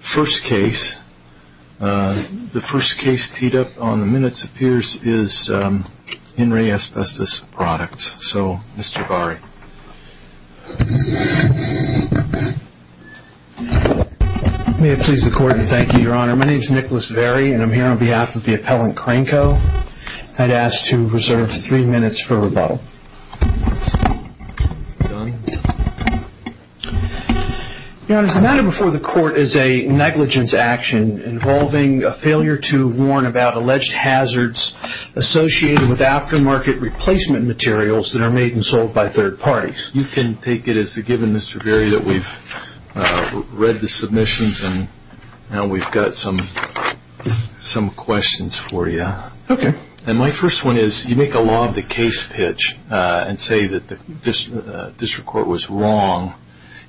First case, the first case teed up on the minutes appears is Henry Asbestos Products, so Mr. Bari. May it please the court and thank you, your honor. My name is Nicholas Varey and I'm here on behalf of the appellant Cranko. I'd ask to reserve three minutes for rebuttal. Your honor, the matter before the court is a negligence action involving a failure to warn about alleged hazards associated with aftermarket replacement materials that are made and sold by third parties. You can take it as a given Mr. Varey that we've read the submissions and now we've got some questions for you. Okay. And my first one is you make a law of the case pitch and say that the district court was wrong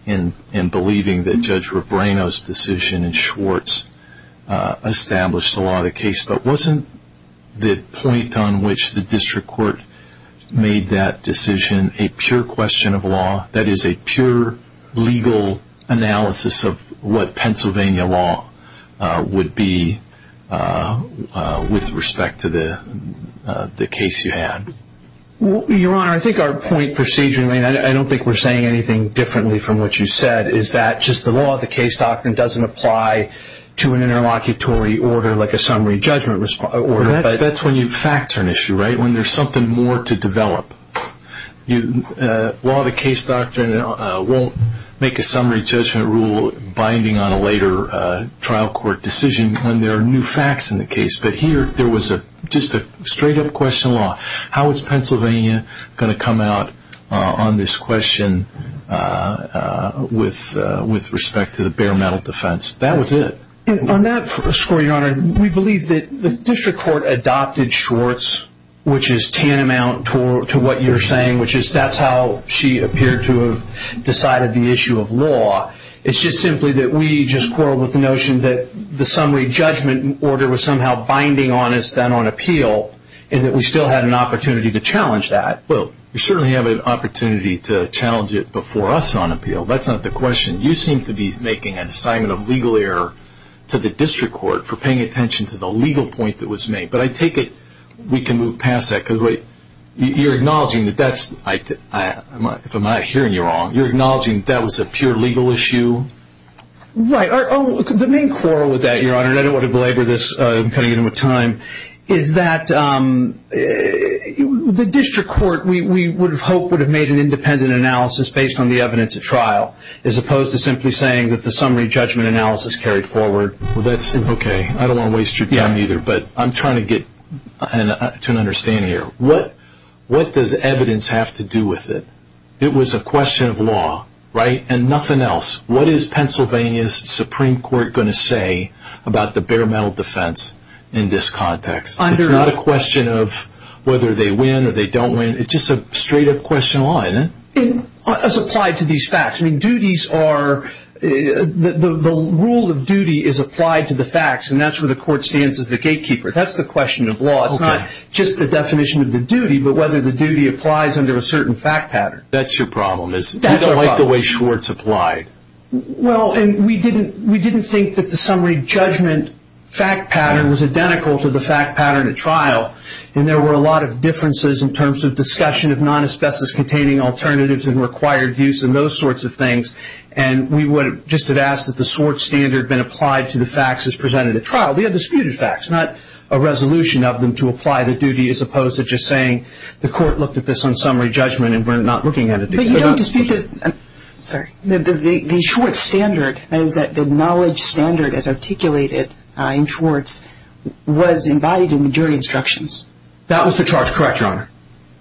in believing that Judge Rebrano's decision in Schwartz established the law of the case, but wasn't the point on which the district court made that decision a pure question of law, that is a pure legal analysis of what Pennsylvania law would be with respect to the case you had? Your honor, I think our point procedurally, and I don't think we're saying anything differently from what you said, is that just the law of the case doctrine doesn't apply to an interlocutory order like a summary judgment order. That's when facts are an issue, right? When there's something more to develop. Law of the case doctrine won't make a summary judgment rule binding on a later trial court decision when there are new facts in the case. But here there was just a straight up question of law. How is Pennsylvania going to come out on this question with respect to the bare metal defense? That was it. On that score, your honor, we believe that the district court adopted Schwartz, which is tantamount to what you're saying, which is that's how she appeared to have decided the issue of law. It's just simply that we just quarreled with the notion that the summary judgment order was somehow binding on us then on appeal, and that we still had an opportunity to challenge that. Well, we certainly have an opportunity to challenge it before us on appeal. That's not the question. You seem to be making an assignment of legal error to the district court for paying attention to the legal point that was made. We can move past that. You're acknowledging that that was a pure legal issue? Right. The main quarrel with that, your honor, and I don't want to belabor this, I'm cutting in with time, is that the district court, we would have hoped, would have made an independent analysis based on the evidence at trial, as opposed to simply saying that the summary judgment analysis carried forward. Okay. I don't want to waste your time either, but I'm trying to get to an understanding here. What does evidence have to do with it? It was a question of law, right? And nothing else. What is Pennsylvania's Supreme Court going to say about the bare metal defense in this context? It's not a question of whether they win or they don't win. It's just a straight-up question of law, isn't it? As applied to these facts. The rule of duty is applied to the facts, and that's where the court stands as the gatekeeper. That's the question of law. It's not just the definition of the duty, but whether the duty applies under a certain fact pattern. That's your problem, isn't it? You don't like the way Schwartz applied. Well, and we didn't think that the summary judgment fact pattern was identical to the fact pattern at trial, and there were a lot of differences in terms of discussion of non-asbestos-containing alternatives and required use and those sorts of things. And we just had asked that the Schwartz standard been applied to the facts as presented at trial. We had disputed facts, not a resolution of them to apply the duty, as opposed to just saying the court looked at this on summary judgment and we're not looking at it. But you don't dispute that the Schwartz standard, the knowledge standard as articulated in Schwartz, was embodied in the jury instructions. That was the charge, correct, Your Honor.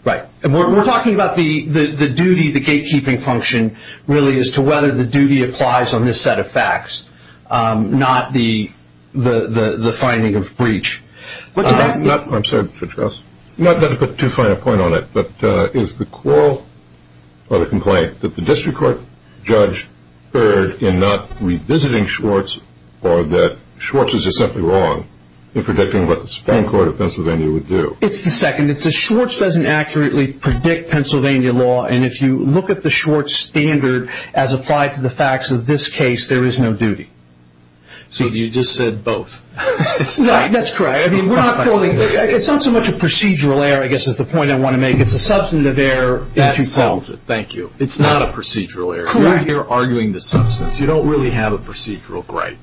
Right. We're talking about the duty, the gatekeeping function, really, as to whether the duty applies on this set of facts, not the finding of breach. I'm sorry, Judge Gross. I'm not going to put too fine a point on it, but is the quarrel or the complaint that the district court judge erred in not revisiting Schwartz or that Schwartz is just simply wrong in predicting what the Supreme Court of Pennsylvania would do? It's the second. Schwartz doesn't accurately predict Pennsylvania law, and if you look at the Schwartz standard as applied to the facts of this case, there is no duty. So you just said both. That's correct. It's not so much a procedural error, I guess, is the point I want to make. It's a substantive error. That solves it. Thank you. It's not a procedural error. You're arguing the substance. You don't really have a procedural gripe.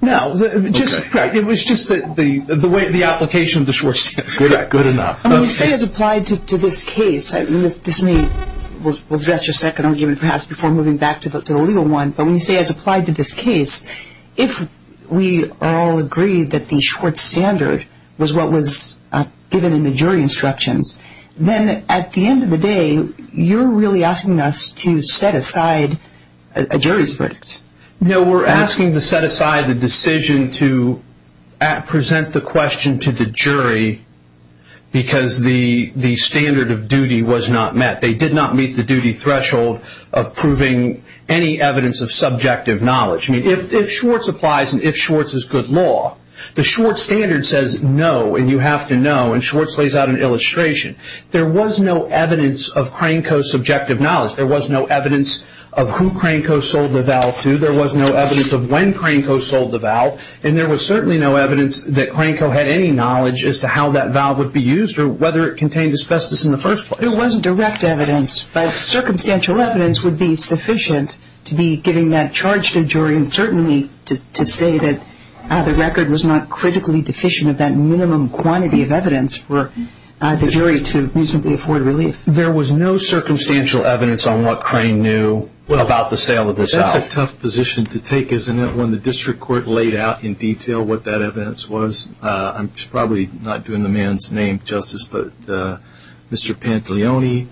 No. It was just the way the application of the Schwartz standard. Good enough. When you say as applied to this case, this may address your second argument, perhaps, before moving back to the legal one, but when you say as applied to this case, if we all agree that the Schwartz standard was what was given in the jury instructions, then at the end of the day, you're really asking us to set aside a jury's verdict. No, we're asking to set aside the decision to present the question to the jury because the standard of duty was not met. They did not meet the duty threshold of proving any evidence of subjective knowledge. If Schwartz applies and if Schwartz is good law, the Schwartz standard says no, and you have to know, and Schwartz lays out an illustration. There was no evidence of Cranco's subjective knowledge. There was no evidence of who Cranco sold the valve to. There was no evidence of when Cranco sold the valve, and there was certainly no evidence that Cranco had any knowledge as to how that valve would be used or whether it contained asbestos in the first place. There wasn't direct evidence, but circumstantial evidence would be sufficient to be giving that charge to jury and certainly to say that the record was not critically deficient of that minimum quantity of evidence for the jury to reasonably afford relief. There was no circumstantial evidence on what Crane knew about the sale of the valve. That's a tough position to take, isn't it, when the district court laid out in detail what that evidence was? I'm probably not doing the man's name justice, but Mr. Pantelioni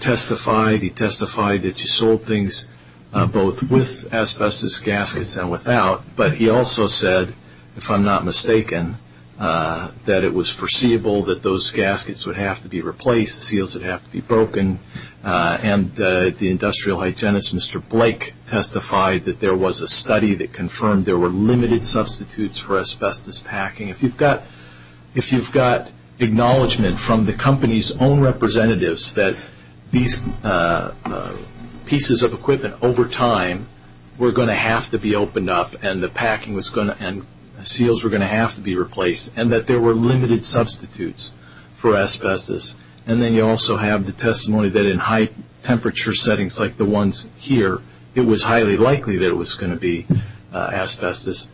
testified. He testified that you sold things both with asbestos gaskets and without, but he also said, if I'm not mistaken, that it was foreseeable that those gaskets would have to be replaced, seals would have to be broken, and the industrial hygienist, Mr. Blake, testified that there was a study that confirmed there were limited substitutes for asbestos packing. If you've got acknowledgment from the company's own representatives that these pieces of equipment, over time, were going to have to be opened up and seals were going to have to be replaced and that there were limited substitutes for asbestos, and then you also have the testimony that in high-temperature settings like the ones here, it was highly likely that it was going to be asbestos,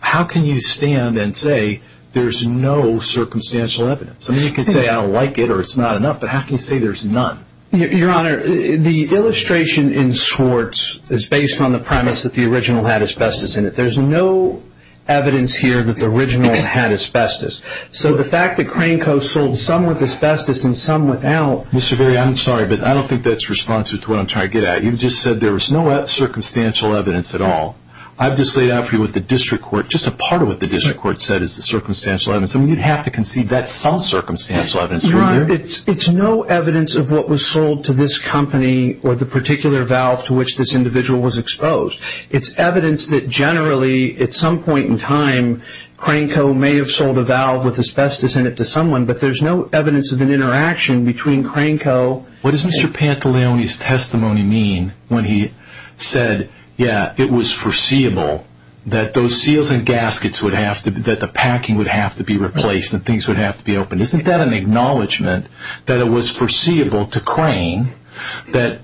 how can you stand and say there's no circumstantial evidence? I mean, you can say I don't like it or it's not enough, but how can you say there's none? Your Honor, the illustration in Swartz is based on the premise that the original had asbestos in it. There's no evidence here that the original had asbestos. So the fact that Cranco sold some with asbestos and some without… Mr. Verri, I'm sorry, but I don't think that's responsive to what I'm trying to get at. You just said there was no circumstantial evidence at all. I've just laid out for you what the district court, just a part of what the district court said is the circumstantial evidence. I mean, you'd have to concede that's some circumstantial evidence, wouldn't you? Your Honor, it's no evidence of what was sold to this company or the particular valve to which this individual was exposed. It's evidence that generally, at some point in time, Cranco may have sold a valve with asbestos in it to someone, but there's no evidence of an interaction between Cranco… What does Mr. Pantaleoni's testimony mean when he said, yeah, it was foreseeable that those seals and gaskets would have to – that the packing would have to be replaced and things would have to be opened? Isn't that an acknowledgment that it was foreseeable to Crane that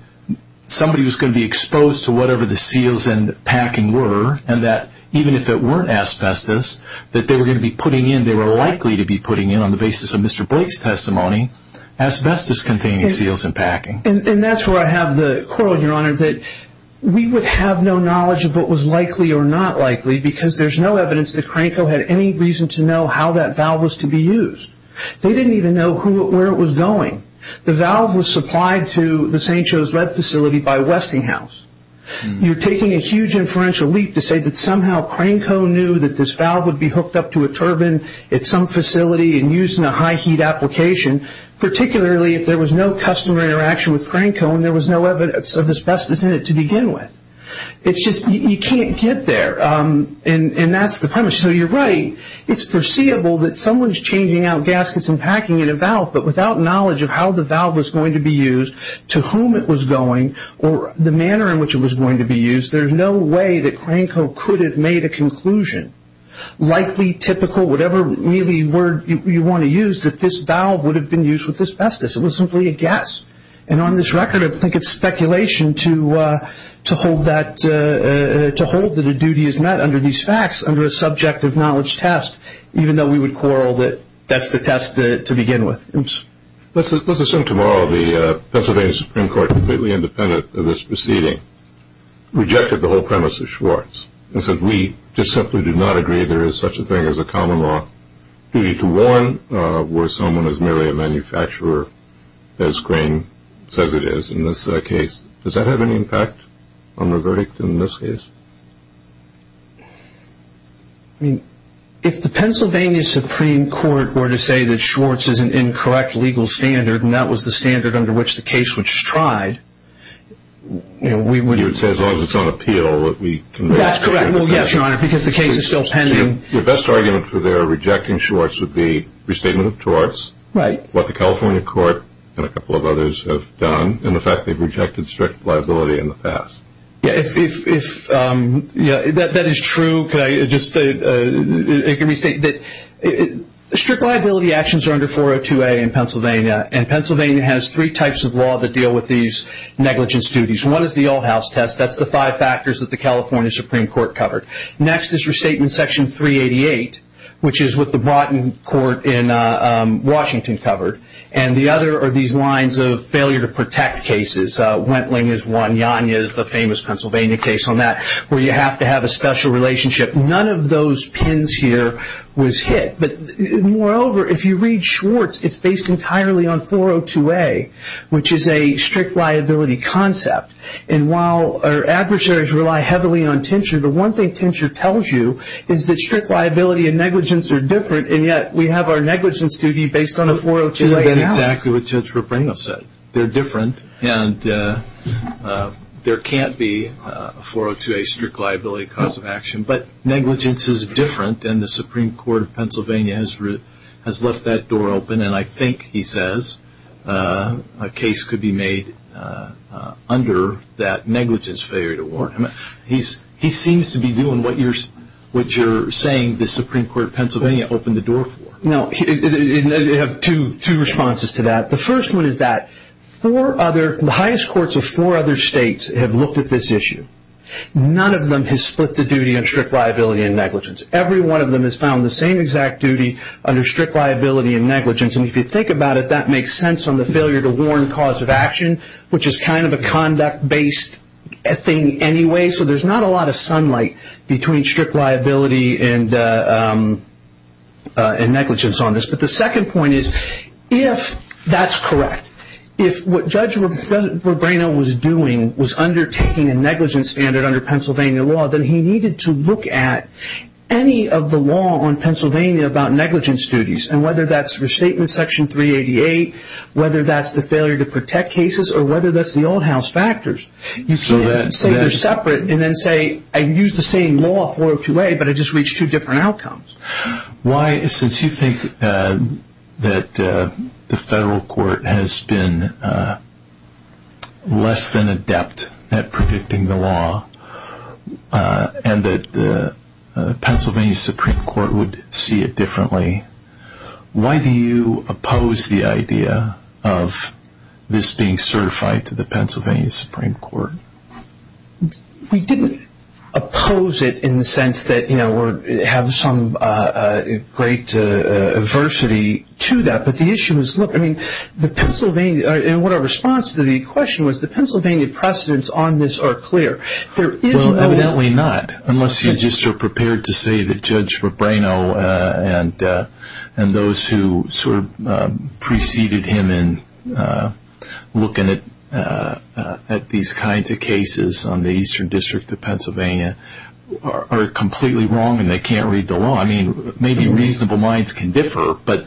somebody was going to be exposed to whatever the seals and packing were, and that even if it weren't asbestos, that they were going to be putting in – they were likely to be putting in, on the basis of Mr. Blake's testimony, asbestos-containing seals and packing? And that's where I have the quarrel, Your Honor, that we would have no knowledge of what was likely or not likely because there's no evidence that Cranco had any reason to know how that valve was to be used. They didn't even know where it was going. The valve was supplied to the St. Joe's Lead facility by Westinghouse. You're taking a huge inferential leap to say that somehow Cranco knew that this valve would be hooked up to a turbine at some facility and used in a high-heat application, particularly if there was no customer interaction with Cranco and there was no evidence of asbestos in it to begin with. It's just – you can't get there, and that's the premise. So you're right. It's foreseeable that someone's changing out gaskets and packing in a valve, but without knowledge of how the valve was going to be used, to whom it was going, or the manner in which it was going to be used, there's no way that Cranco could have made a conclusion, likely, typical, whatever really word you want to use, that this valve would have been used with asbestos. It was simply a guess. And on this record, I think it's speculation to hold that a duty is met under these facts, under a subjective knowledge test, even though we would quarrel that that's the test to begin with. Let's assume tomorrow the Pennsylvania Supreme Court, completely independent of this proceeding, rejected the whole premise of Schwartz and said, we just simply do not agree there is such a thing as a common law duty to warn where someone is merely a manufacturer, as Crane says it is in this case. Does that have any impact on the verdict in this case? I mean, if the Pennsylvania Supreme Court were to say that Schwartz is an incorrect legal standard, and that was the standard under which the case was tried, we would... You would say, as long as it's on appeal, that we can... That's correct. Well, yes, Your Honor, because the case is still pending. Your best argument for their rejecting Schwartz would be restatement of torts, what the California court and a couple of others have done, and the fact they've rejected strict liability in the past. If that is true, can I just... Strict liability actions are under 402A in Pennsylvania, and Pennsylvania has three types of law that deal with these negligence duties. One is the all-house test. That's the five factors that the California Supreme Court covered. Next is restatement section 388, which is what the Broughton court in Washington covered, and the other are these lines of failure to protect cases. Wentling is one. Yanya is the famous Pennsylvania case on that, where you have to have a special relationship. None of those pins here was hit. But moreover, if you read Schwartz, it's based entirely on 402A, which is a strict liability concept. And while our adversaries rely heavily on tincture, the one thing tincture tells you is that strict liability and negligence are different, and yet we have our negligence duty based on a 402A act. Isn't that exactly what Judge Rabrino said? They're different, and there can't be a 402A strict liability cause of action, but negligence is different, and the Supreme Court of Pennsylvania has left that door open, and I think, he says, a case could be made under that negligence failure to warrant. He seems to be doing what you're saying the Supreme Court of Pennsylvania opened the door for. I have two responses to that. The first one is that the highest courts of four other states have looked at this issue. None of them has split the duty on strict liability and negligence. Every one of them has found the same exact duty under strict liability and negligence, and if you think about it, that makes sense on the failure to warrant cause of action, which is kind of a conduct-based thing anyway, so there's not a lot of sunlight between strict liability and negligence on this. But the second point is, if that's correct, if what Judge Rabrino was doing was undertaking a negligence standard under Pennsylvania law, then he needed to look at any of the law on Pennsylvania about negligence duties, and whether that's restatement section 388, whether that's the failure to protect cases, or whether that's the old house factors. You can't say they're separate and then say, I used the same law, 402A, but I just reached two different outcomes. Why, since you think that the federal court has been less than adept at predicting the law, and that the Pennsylvania Supreme Court would see it differently, why do you oppose the idea of this being certified to the Pennsylvania Supreme Court? We didn't oppose it in the sense that we have some great adversity to that, but our response to the question was, the Pennsylvania precedents on this are clear. Well, evidently not, unless you're just prepared to say that Judge Rabrino and those who preceded him in looking at these kinds of cases on the Eastern District of Pennsylvania are completely wrong and they can't read the law. I mean, maybe reasonable minds can differ, but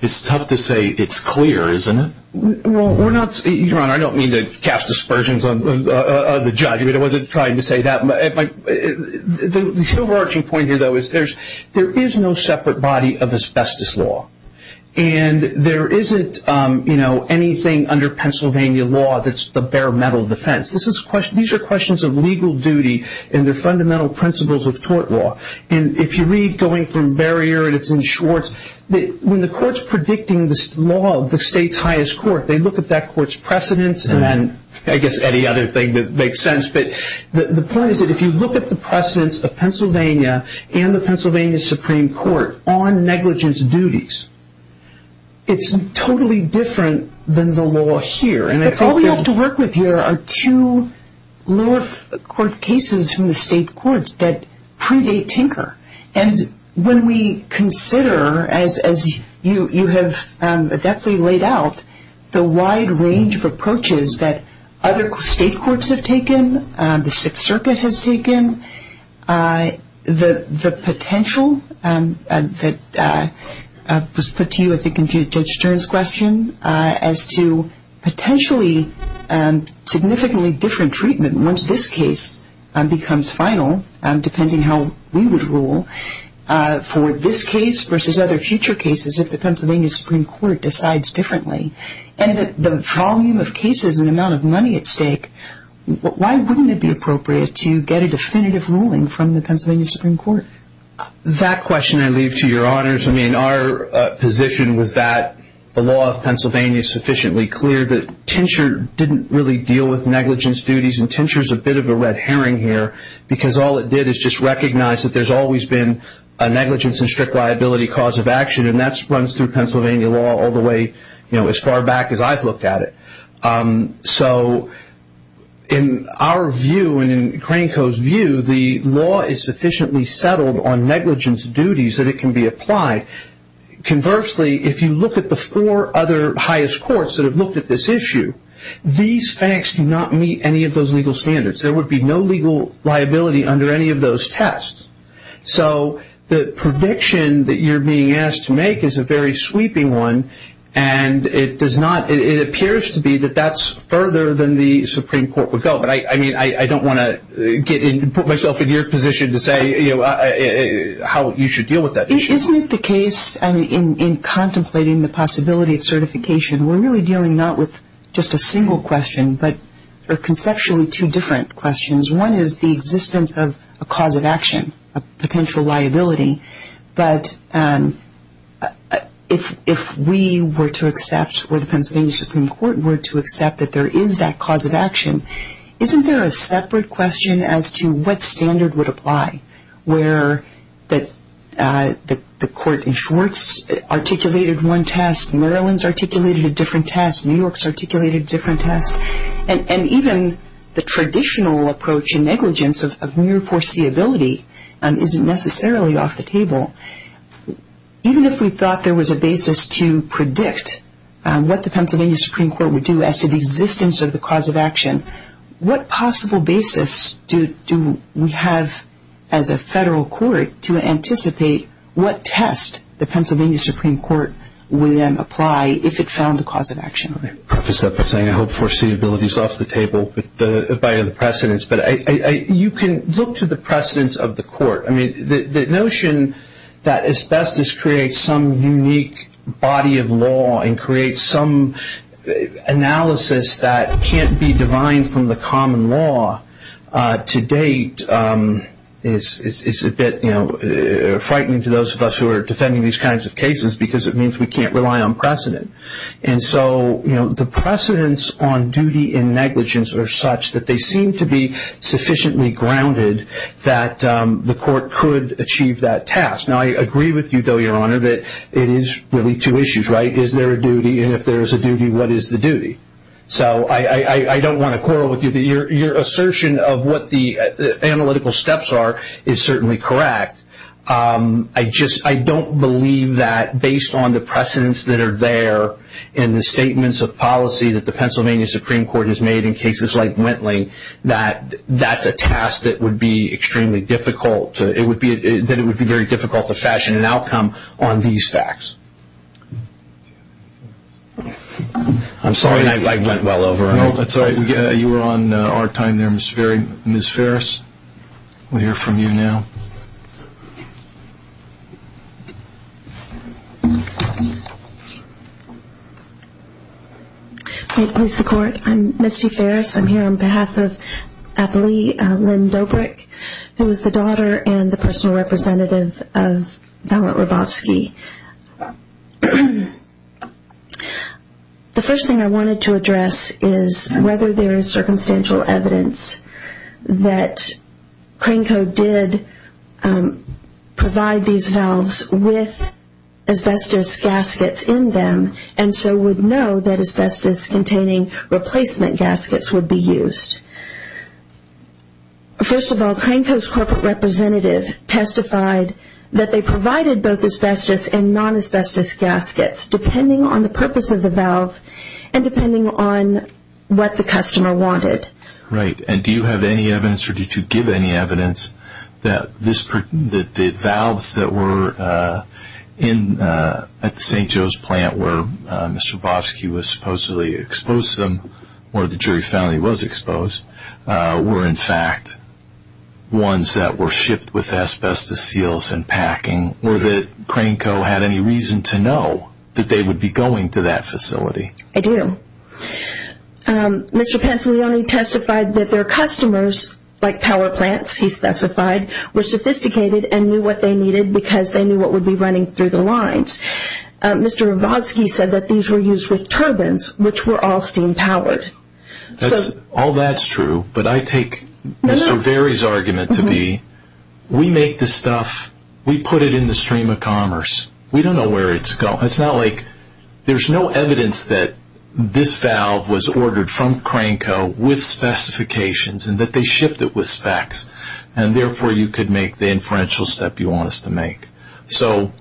it's tough to say it's clear, isn't it? Well, Your Honor, I don't mean to cast aspersions on the judge. I wasn't trying to say that. The overarching point here, though, is there is no separate body of asbestos law, and there isn't anything under Pennsylvania law that's the bare metal defense. These are questions of legal duty, and they're fundamental principles of tort law. And if you read Going Through Barrier, and it's in Schwartz, when the court's predicting this law of the state's highest court, they look at that court's precedents and then I guess any other thing that makes sense. But the point is that if you look at the precedents of Pennsylvania and the Pennsylvania Supreme Court on negligence duties, it's totally different than the law here. All we have to work with here are two lower court cases from the state courts that predate Tinker. And when we consider, as you have deftly laid out, the wide range of approaches that other state courts have taken, the Sixth Circuit has taken, the potential that was put to you, I think, in Judge Stern's question, as to potentially significantly different treatment once this case becomes final, depending how we would rule, for this case versus other future cases if the Pennsylvania Supreme Court decides differently. And the volume of cases and the amount of money at stake, why wouldn't it be appropriate to get a definitive ruling from the Pennsylvania Supreme Court? That question I leave to your honors. I mean, our position was that the law of Pennsylvania is sufficiently clear that Tinker didn't really deal with negligence duties, and Tinker's a bit of a red herring here because all it did is just recognize that there's always been a negligence and strict liability cause of action, and that runs through Pennsylvania law all the way as far back as I've looked at it. So in our view and in Cranko's view, the law is sufficiently settled on negligence duties that it can be applied. Conversely, if you look at the four other highest courts that have looked at this issue, these facts do not meet any of those legal standards. There would be no legal liability under any of those tests. So the prediction that you're being asked to make is a very sweeping one, and it appears to be that that's further than the Supreme Court would go. But, I mean, I don't want to put myself in your position to say how you should deal with that issue. Isn't it the case in contemplating the possibility of certification, we're really dealing not with just a single question but are conceptually two different questions. One is the existence of a cause of action, a potential liability. But if we were to accept or the Pennsylvania Supreme Court were to accept that there is that cause of action, isn't there a separate question as to what standard would apply, where the court in Schwartz articulated one test, Maryland's articulated a different test, New York's articulated a different test? And even the traditional approach in negligence of mere foreseeability isn't necessarily off the table. Even if we thought there was a basis to predict what the Pennsylvania Supreme Court would do as to the existence of the cause of action, what possible basis do we have as a federal court to anticipate what test the Pennsylvania Supreme Court would then apply if it found a cause of action? Let me preface that by saying I hope foreseeability is off the table by the precedence. But you can look to the precedence of the court. I mean, the notion that asbestos creates some unique body of law and creates some analysis that can't be defined from the common law to date is a bit frightening to those of us who are defending these kinds of cases because it means we can't rely on precedent. And so the precedence on duty in negligence are such that they seem to be sufficiently grounded that the court could achieve that task. Now, I agree with you, though, Your Honor, that it is really two issues, right? Is there a duty? And if there is a duty, what is the duty? So I don't want to quarrel with you. Your assertion of what the analytical steps are is certainly correct. I just don't believe that based on the precedence that are there in the statements of policy that the Pennsylvania Supreme Court has made in cases like Wentling, that that's a task that would be extremely difficult. That it would be very difficult to fashion an outcome on these facts. I'm sorry I went well over. No, that's all right. You were on our time there, Ms. Ferris. We'll hear from you now. Please, the Court. I'm Misty Ferris. I'm here on behalf of Atlee Lynn Dobrik, who is the daughter and the personal representative of Valent Robofsky. The first thing I wanted to address is whether there is circumstantial evidence that Cranco did provide these valves with asbestos gaskets in them and so would know that asbestos-containing replacement gaskets would be used. First of all, Cranco's corporate representative testified that they provided both asbestos and non-asbestos gaskets, depending on the purpose of the valve and depending on what the customer wanted. Right. And do you have any evidence, or did you give any evidence, that the valves that were at the St. Joe's plant where Mr. Robofsky was supposedly exposed to them or the jury found that he was exposed were, in fact, ones that were shipped with asbestos seals and packing, or that Cranco had any reason to know that they would be going to that facility? I do. Mr. Pantolioni testified that their customers, like power plants, he specified, were sophisticated and knew what they needed because they knew what would be running through the lines. Mr. Robofsky said that these were used with turbines, which were all steam-powered. All that's true, but I take Mr. Varey's argument to be, we make the stuff, we put it in the stream of commerce. We don't know where it's going. It's not like there's no evidence that this valve was ordered from Cranco with specifications and that they shipped it with specs, and therefore you could make the inferential step you want us to make. So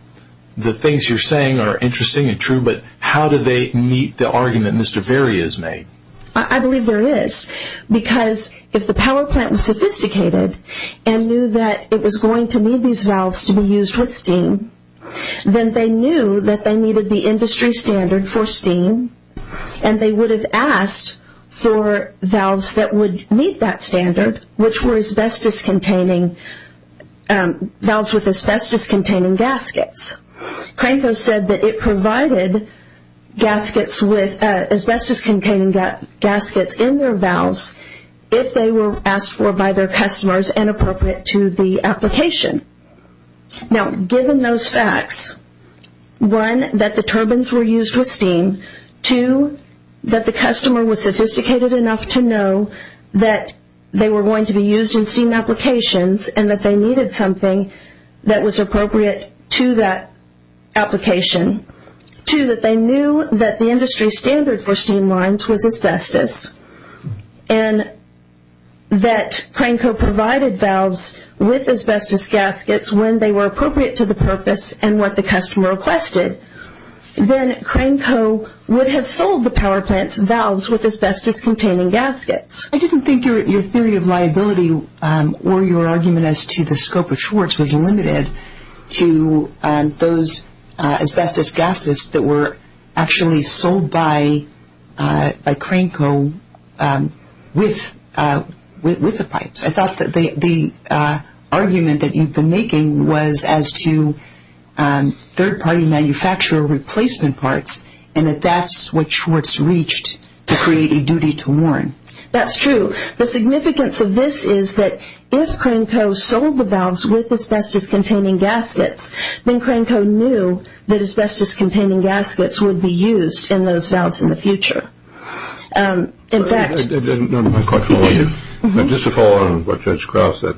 the things you're saying are interesting and true, but how do they meet the argument Mr. Varey has made? I believe there is because if the power plant was sophisticated and knew that it was going to need these valves to be used with steam, then they knew that they needed the industry standard for steam and they would have asked for valves that would meet that standard, which were valves with asbestos-containing gaskets. Cranco said that it provided asbestos-containing gaskets in their valves if they were asked for by their customers and appropriate to the application. Now given those facts, one, that the turbines were used with steam, two, that the customer was sophisticated enough to know that they were going to be used in steam applications and that they needed something that was appropriate to that application, two, that they knew that the industry standard for steam lines was asbestos and that Cranco provided valves with asbestos gaskets when they were appropriate to the purpose and what the customer requested, then Cranco would have sold the power plant's valves with asbestos-containing gaskets. I didn't think your theory of liability or your argument as to the scope of Schwartz was limited to those asbestos gaskets that were actually sold by Cranco with the pipes. I thought that the argument that you've been making was as to third-party manufacturer replacement parts and that that's what Schwartz reached to create a duty to warrant. That's true. The significance of this is that if Cranco sold the valves with asbestos-containing gaskets, then Cranco knew that asbestos-containing gaskets would be used in those valves in the future. In fact- Just to follow on what Judge Krause said,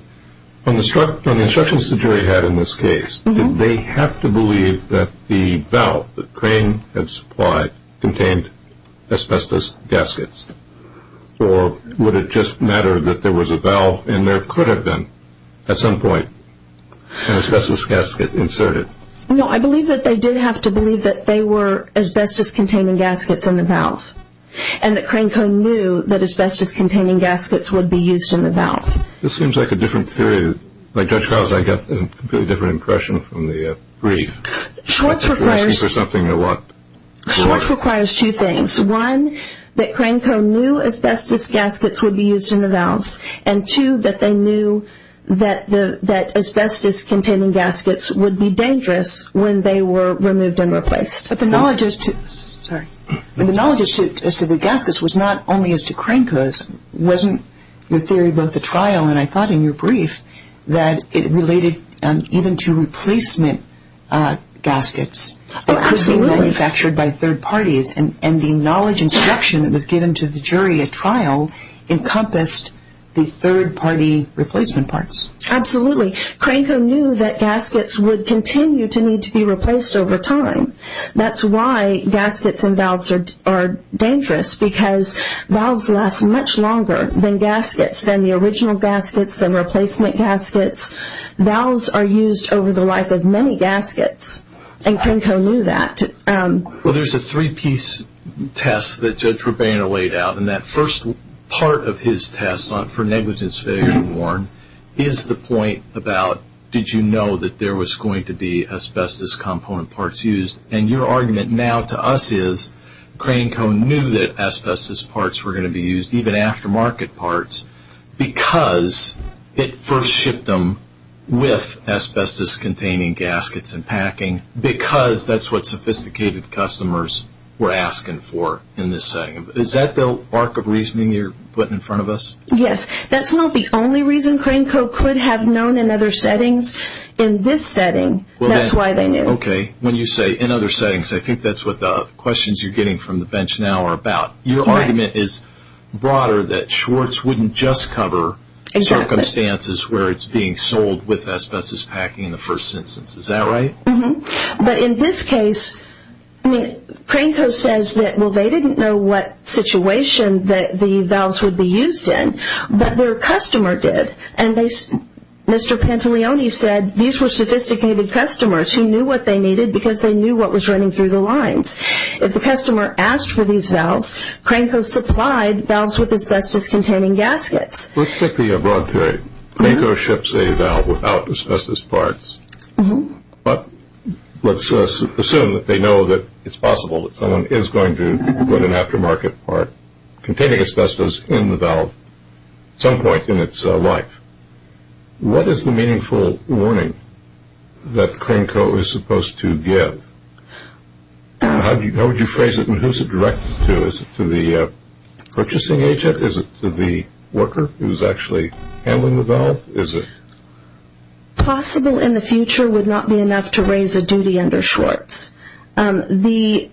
on the instructions the jury had in this case, did they have to believe that the valve that Crane had supplied contained asbestos gaskets or would it just matter that there was a valve and there could have been, at some point, an asbestos gasket inserted? No, I believe that they did have to believe that they were asbestos-containing gaskets in the valve and that Cranco knew that asbestos-containing gaskets would be used in the valve. This seems like a different theory. Like Judge Krause, I get a completely different impression from the brief. Schwartz requires- You're asking for something or what? Schwartz requires two things. One, that Cranco knew asbestos gaskets would be used in the valves and, two, that they knew that asbestos-containing gaskets would be dangerous when they were removed and replaced. But the knowledge as to the gaskets was not only as to Cranco's. Wasn't your theory about the trial, and I thought in your brief, that it related even to replacement gaskets? Absolutely. Because they were manufactured by third parties, and the knowledge instruction that was given to the jury at trial encompassed the third-party replacement parts. Absolutely. Cranco knew that gaskets would continue to need to be replaced over time. That's why gaskets and valves are dangerous, because valves last much longer than gaskets, than the original gaskets, than replacement gaskets. Valves are used over the life of many gaskets, and Cranco knew that. Well, there's a three-piece test that Judge Rabana laid out, and that first part of his test for negligence failure to warn is the point about, did you know that there was going to be asbestos-component parts used? And your argument now to us is Cranco knew that asbestos parts were going to be used, even aftermarket parts, because it first shipped them with asbestos-containing gaskets and packing, because that's what sophisticated customers were asking for in this setting. Is that the arc of reasoning you're putting in front of us? Yes. That's not the only reason Cranco could have known in other settings. In this setting, that's why they knew. Okay. When you say in other settings, I think that's what the questions you're getting from the bench now are about. Your argument is broader that Schwartz wouldn't just cover circumstances where it's being sold with asbestos packing in the first instance. Is that right? Mm-hmm. But in this case, Cranco says that, well, they didn't know what situation the valves would be used in, but their customer did, and Mr. Pantolioni said these were sophisticated customers who knew what they needed because they knew what was running through the lines. If the customer asked for these valves, Cranco supplied valves with asbestos-containing gaskets. Let's take the broad theory. Cranco ships a valve without asbestos parts, but let's assume that they know that it's possible that someone is going to put an aftermarket part containing asbestos in the valve at some point in its life. What is the meaningful warning that Cranco is supposed to give? How would you phrase it and who is it directed to? Is it to the purchasing agent? Is it to the worker who is actually handling the valve? Possible in the future would not be enough to raise a duty under Schwartz. The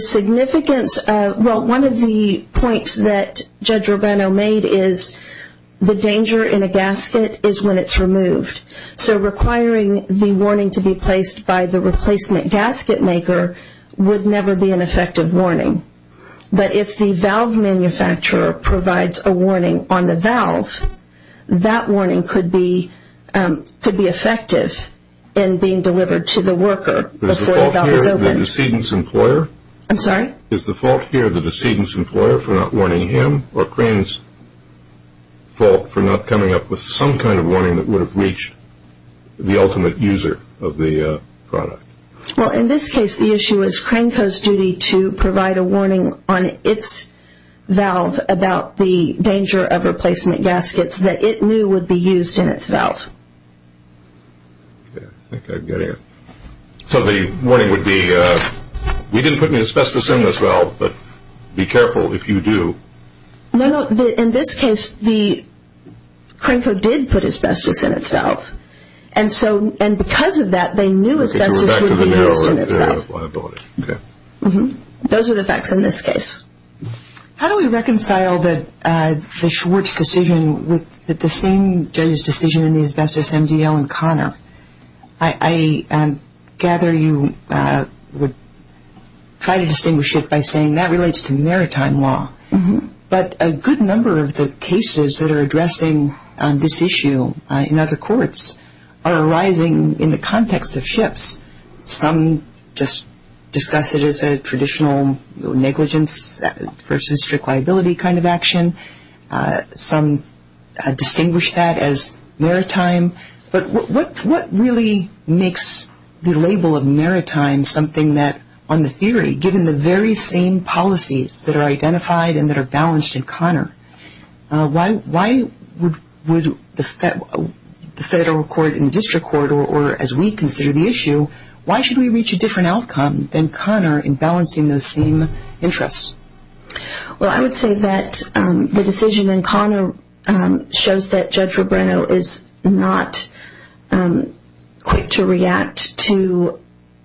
significance, well, one of the points that Judge Rubano made is the danger in a gasket is when it's removed. So requiring the warning to be placed by the replacement gasket maker would never be an effective warning. But if the valve manufacturer provides a warning on the valve, that warning could be effective in being delivered to the worker before the valve is opened. Is the fault here the decedent's employer? I'm sorry? Is the fault here the decedent's employer for not warning him or Cranco's fault for not coming up with some kind of warning that would have reached the ultimate user of the product? Well, in this case, the issue is Cranco's duty to provide a warning on its valve about the danger of replacement gaskets that it knew would be used in its valve. Okay, I think I get it. So the warning would be, we didn't put any asbestos in this valve, but be careful if you do. No, no, in this case, Cranco did put asbestos in its valve. And because of that, they knew asbestos would be used in its valve. Those are the facts in this case. How do we reconcile the Schwartz decision with the same judge's decision in the asbestos MDL in Connor? I gather you would try to distinguish it by saying that relates to maritime law. But a good number of the cases that are addressing this issue in other courts some just discuss it as a traditional negligence versus strict liability kind of action. Some distinguish that as maritime. But what really makes the label of maritime something that, on the theory, given the very same policies that are identified and that are balanced in Connor, why would the federal court and district court, or as we consider the issue, why should we reach a different outcome than Connor in balancing those same interests? Well, I would say that the decision in Connor shows that Judge Robreno is not quick to react to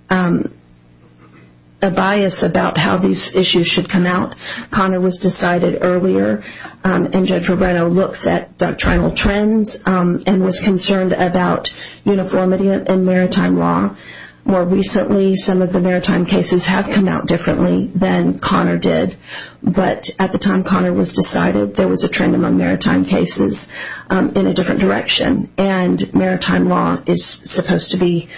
a bias about how these issues should come out. Connor was decided earlier, and Judge Robreno looks at doctrinal trends and was concerned about uniformity in maritime law. More recently, some of the maritime cases have come out differently than Connor did. But at the time Connor was decided, there was a trend among maritime cases in a different direction. And maritime law is supposed to be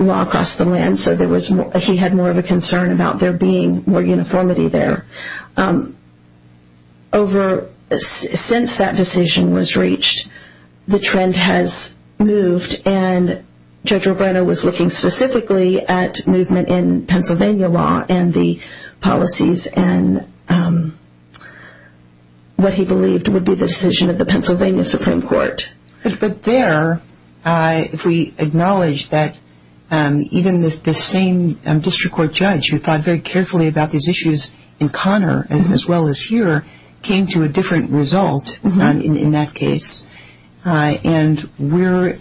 law across the land, so he had more of a concern about there being more uniformity there. Since that decision was reached, the trend has moved, and Judge Robreno was looking specifically at movement in Pennsylvania law and the policies and what he believed would be the decision of the Pennsylvania Supreme Court. But there, if we acknowledge that even the same district court judge who thought very carefully about these issues in Connor as well as here came to a different result in that case, and we're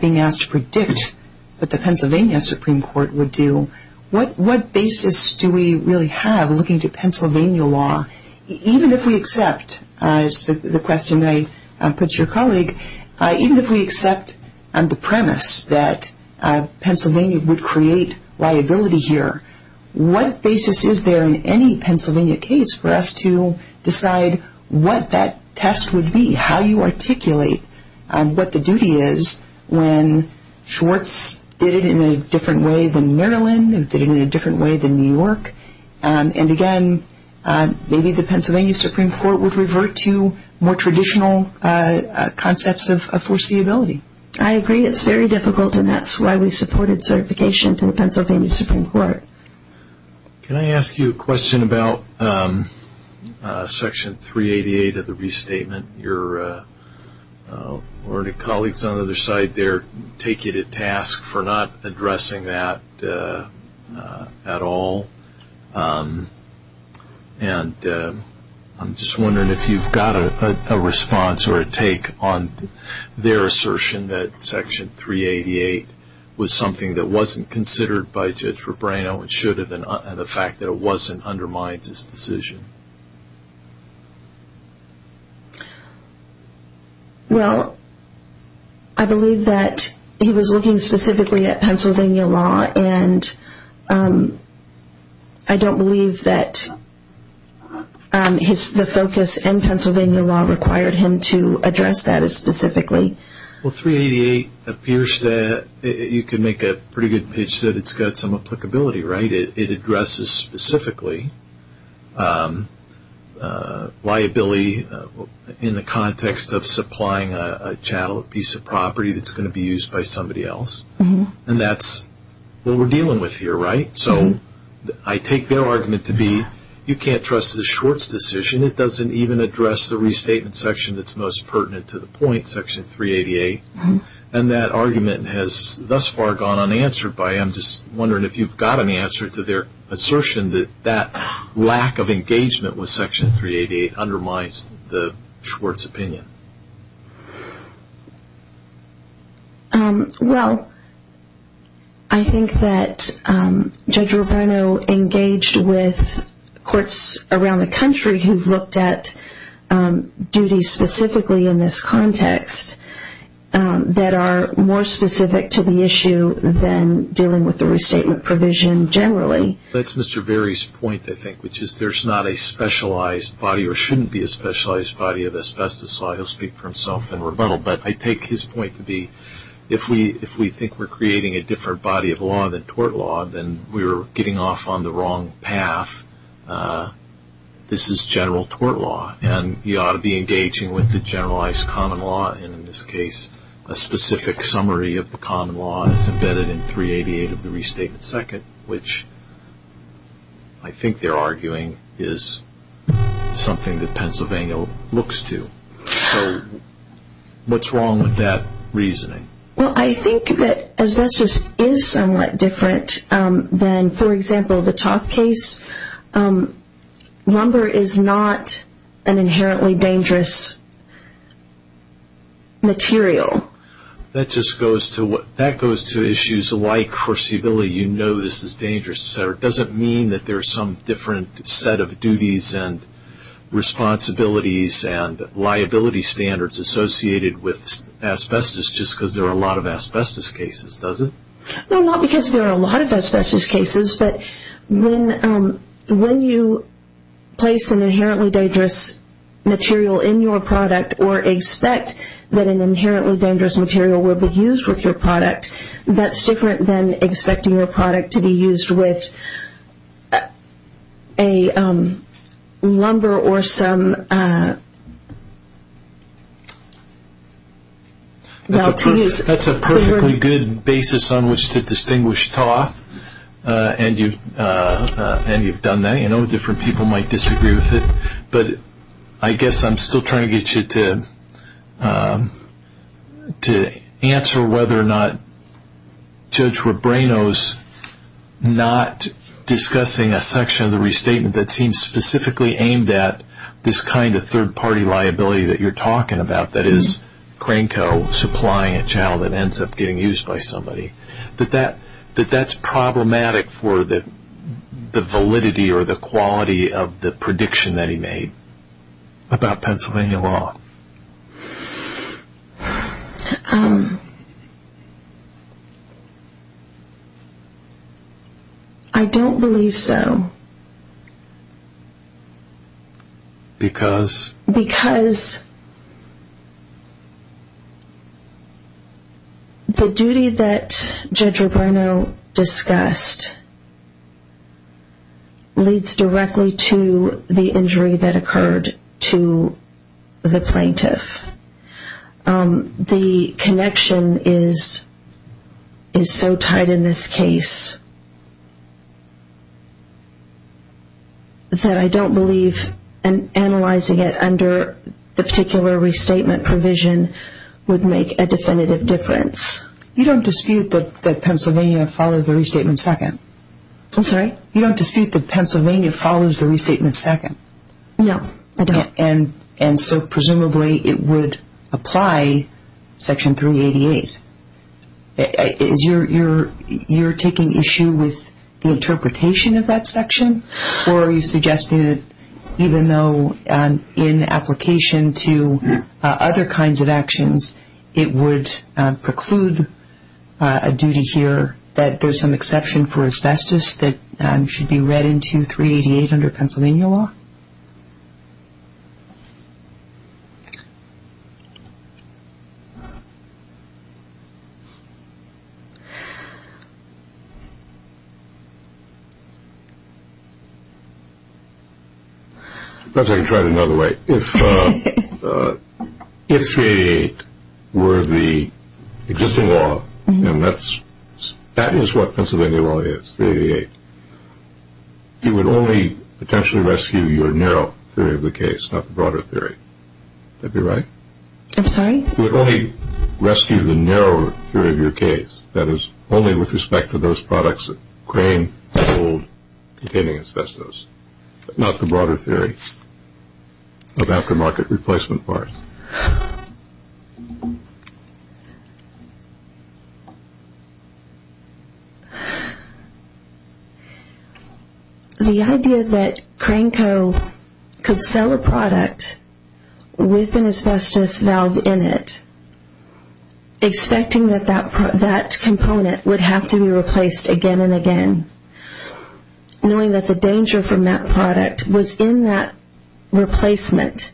being asked to predict what the Pennsylvania Supreme Court would do, what basis do we really have looking to Pennsylvania law, even if we accept the question that I put to your colleague, even if we accept the premise that Pennsylvania would create liability here, what basis is there in any Pennsylvania case for us to decide what that test would be, how you articulate what the duty is when Schwartz did it in a different way than Maryland and did it in a different way than New York? And again, maybe the Pennsylvania Supreme Court would revert to more traditional concepts of foreseeability. I agree. It's very difficult, and that's why we supported certification to the Pennsylvania Supreme Court. Can I ask you a question about Section 388 of the Restatement? Your colleagues on the other side there take it at task for not addressing that at all, and I'm just wondering if you've got a response or a take on their assertion that Section 388 was something that wasn't considered by Judge Rebrano and the fact that it wasn't undermines his decision. Well, I believe that he was looking specifically at Pennsylvania law, and I don't believe that the focus in Pennsylvania law required him to address that as specifically. Well, 388 appears that you can make a pretty good pitch that it's got some applicability, right? It addresses specifically liability in the context of supplying a piece of property that's going to be used by somebody else, and that's what we're dealing with here, right? So I take their argument to be you can't trust the Schwartz decision. It doesn't even address the Restatement section that's most pertinent to the point, Section 388, and that argument has thus far gone unanswered by him. I'm just wondering if you've got an answer to their assertion that that lack of engagement with Section 388 undermines the Schwartz opinion. Well, I think that Judge Rebrano engaged with courts around the country who've looked at duties specifically in this context that are more specific to the issue than dealing with the Restatement provision generally. That's Mr. Berry's point, I think, which is there's not a specialized body or shouldn't be a specialized body of asbestos law. He'll speak for himself in rebuttal, but I take his point to be if we think we're creating a different body of law than tort law, then we're getting off on the wrong path. This is general tort law, and you ought to be engaging with the generalized common law, and in this case, a specific summary of the common law is embedded in 388 of the Restatement 2nd, which I think they're arguing is something that Pennsylvania looks to. So what's wrong with that reasoning? Well, I think that asbestos is somewhat different than, for example, the Top case. Lumber is not an inherently dangerous material. That just goes to issues like foreseeability. You know this is dangerous. It doesn't mean that there's some different set of duties and responsibilities and liability standards associated with asbestos just because there are a lot of asbestos cases, does it? No, not because there are a lot of asbestos cases, but when you place an inherently dangerous material in your product or expect that an inherently dangerous material will be used with your product, that's different than expecting your product to be used with a lumber or some... That's a perfectly good basis on which to distinguish toss, and you've done that. I know different people might disagree with it, but I guess I'm still trying to get you to answer whether or not Judge Rebranos not discussing a section of the restatement that seems specifically aimed at this kind of third-party liability that you're talking about, that is Cranko supplying a child that ends up getting used by somebody. That that's problematic for the validity or the quality of the prediction that he made about Pennsylvania law. I don't believe so. Because? Because the duty that Judge Rebranos discussed leads directly to the injury that occurred to the plaintiff. The connection is so tied in this case that I don't believe analyzing it under the particular restatement provision would make a definitive difference. You don't dispute that Pennsylvania follows the restatement second? I'm sorry? You don't dispute that Pennsylvania follows the restatement second? No, I don't. And so presumably it would apply Section 388. You're taking issue with the interpretation of that section? Or are you suggesting that even though in application to other kinds of actions, it would preclude a duty here that there's some exception for asbestos that should be read into 388 under Pennsylvania law? Perhaps I can try it another way. If 388 were the existing law, and that is what Pennsylvania law is, 388, you would only potentially rescue your narrow theory of the case, not the broader theory. Would that be right? I'm sorry? You would only rescue the narrow theory of your case, that is only with respect to those products that claim to hold containing asbestos, not the broader theory of aftermarket replacement parts. The idea that Cranco could sell a product with an asbestos valve in it, expecting that that component would have to be replaced again and again, knowing that the danger from that product was in that replacement,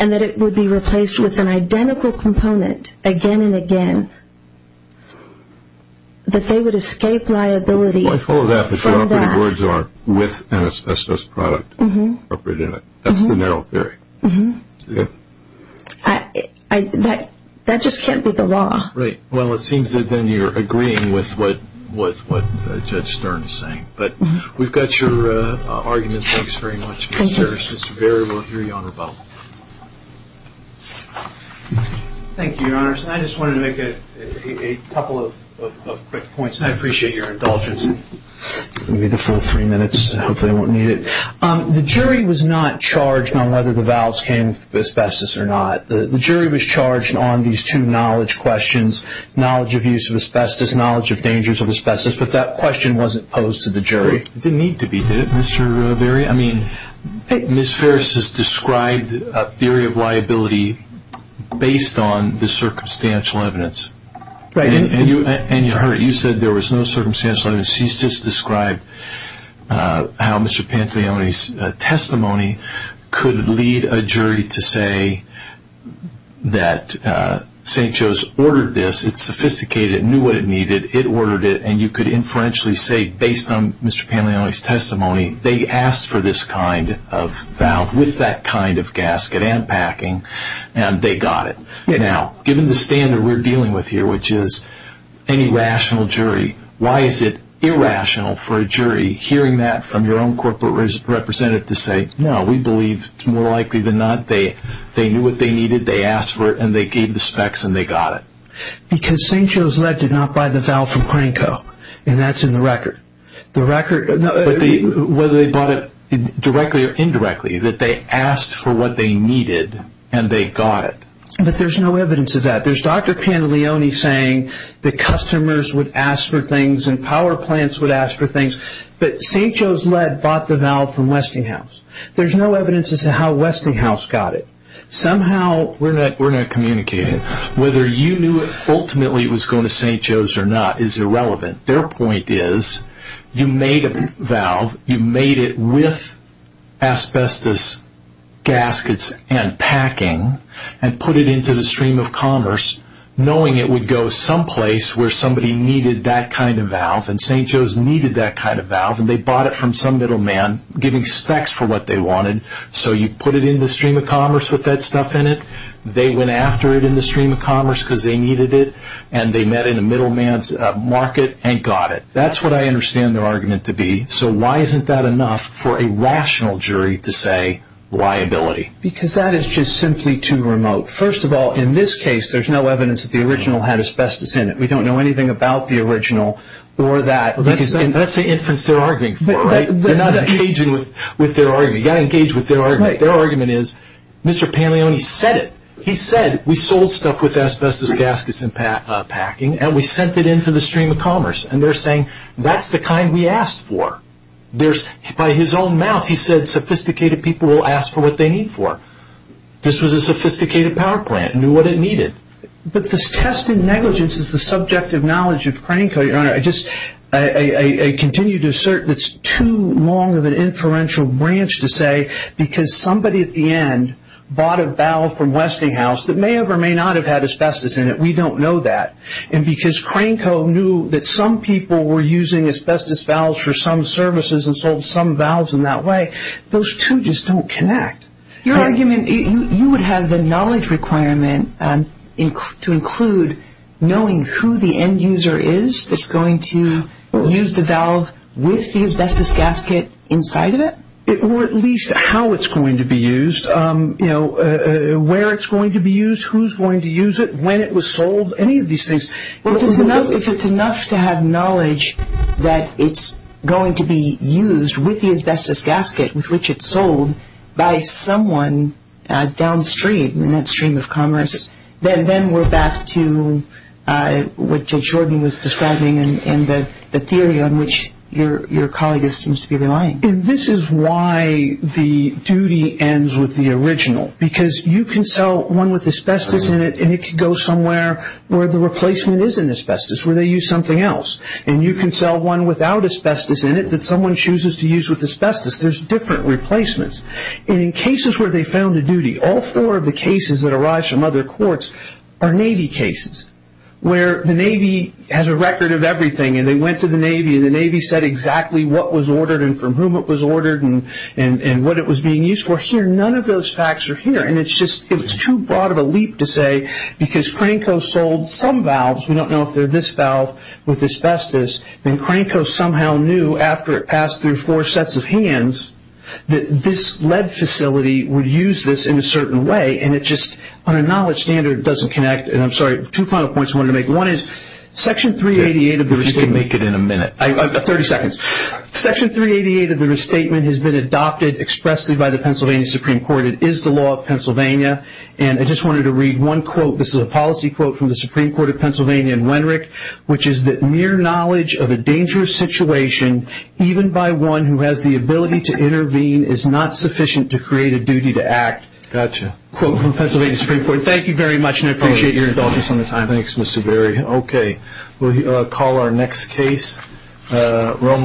and that it would be replaced with an identical component again and again, that they would escape liability for that. I follow that, but you're offering the words with an asbestos product incorporated in it. That's the narrow theory. That just can't be the law. Right. Well, it seems that then you're agreeing with what Judge Stern is saying. But we've got your argument. Thank you. Mr. Stern, it's just very well to hear you on rebuttal. Thank you, Your Honor. I just wanted to make a couple of quick points, and I appreciate your indulgence. Give me the full three minutes. Hopefully I won't need it. The jury was not charged on whether the valves came with asbestos or not. The jury was charged on these two knowledge questions, knowledge of use of asbestos, knowledge of dangers of asbestos, but that question wasn't posed to the jury. It didn't need to be, did it, Mr. Verri? I mean, Ms. Ferris has described a theory of liability based on the circumstantial evidence. Right. And you heard it. You said there was no circumstantial evidence. She's just described how Mr. Pantaleone's testimony could lead a jury to say that St. Joe's ordered this. It's sophisticated. It knew what it needed. It ordered it. And you could inferentially say, based on Mr. Pantaleone's testimony, they asked for this kind of valve with that kind of gasket and packing, and they got it. Now, given the standard we're dealing with here, which is any rational jury, why is it irrational for a jury hearing that from your own corporate representative to say, no, we believe it's more likely than not they knew what they needed, they asked for it, and they gave the specs and they got it? Because St. Joe's Lead did not buy the valve from Cranco, and that's in the record. But whether they bought it directly or indirectly, that they asked for what they needed and they got it. But there's no evidence of that. There's Dr. Pantaleone saying that customers would ask for things and power plants would ask for things, but St. Joe's Lead bought the valve from Westinghouse. There's no evidence as to how Westinghouse got it. Somehow we're not communicating. Whether you knew ultimately it was going to St. Joe's or not is irrelevant. Their point is you made a valve, you made it with asbestos gaskets and packing, and put it into the stream of commerce knowing it would go someplace where somebody needed that kind of valve, and St. Joe's needed that kind of valve, and they bought it from some middleman giving specs for what they wanted. So you put it in the stream of commerce with that stuff in it, they went after it in the stream of commerce because they needed it, and they met in a middleman's market and got it. That's what I understand their argument to be. So why isn't that enough for a rational jury to say liability? Because that is just simply too remote. First of all, in this case, there's no evidence that the original had asbestos in it. We don't know anything about the original or that. That's the inference they're arguing for, right? They're not engaging with their argument. You've got to engage with their argument. Their argument is Mr. Paglioni said it. He said we sold stuff with asbestos gaskets and packing, and we sent it into the stream of commerce, and they're saying that's the kind we asked for. By his own mouth, he said sophisticated people will ask for what they need for. This was a sophisticated power plant. It knew what it needed. But this test in negligence is the subject of knowledge of Cranco, Your Honor. I continue to assert it's too long of an inferential branch to say because somebody at the end bought a valve from Westinghouse that may have or may not have had asbestos in it. We don't know that. And because Cranco knew that some people were using asbestos valves for some services and sold some valves in that way, those two just don't connect. Your argument, you would have the knowledge requirement to include knowing who the end user is that's going to use the valve with the asbestos gasket inside of it? Or at least how it's going to be used, where it's going to be used, who's going to use it, when it was sold, any of these things. If it's enough to have knowledge that it's going to be used with the asbestos gasket with which it's sold by someone downstream in that stream of commerce, then we're back to what Judge Jordan was describing and the theory on which your colleague seems to be relying. This is why the duty ends with the original because you can sell one with asbestos in it and it can go somewhere where the replacement is in asbestos, where they use something else. And you can sell one without asbestos in it that someone chooses to use with asbestos. There's different replacements. And in cases where they found a duty, all four of the cases that arise from other courts are Navy cases where the Navy has a record of everything and they went to the Navy and the Navy said exactly what was ordered and from whom it was ordered and what it was being used for. None of those facts are here. And it's too broad of a leap to say because Cranco sold some valves, we don't know if they're this valve with asbestos, then Cranco somehow knew after it passed through four sets of hands that this lead facility would use this in a certain way and it just on a knowledge standard doesn't connect. And I'm sorry, two final points I wanted to make. One is Section 388 of the restatement. If you can make it in a minute. 30 seconds. Section 388 of the restatement has been adopted expressly by the Pennsylvania Supreme Court. It is the law of Pennsylvania. And I just wanted to read one quote. This is a policy quote from the Supreme Court of Pennsylvania in Wenrick, which is that mere knowledge of a dangerous situation, even by one who has the ability to intervene, is not sufficient to create a duty to act. Got you. Quote from Pennsylvania Supreme Court. Thank you very much and I appreciate your indulgence on the time. Thanks, Mr. Berry. Okay. We'll call our next case.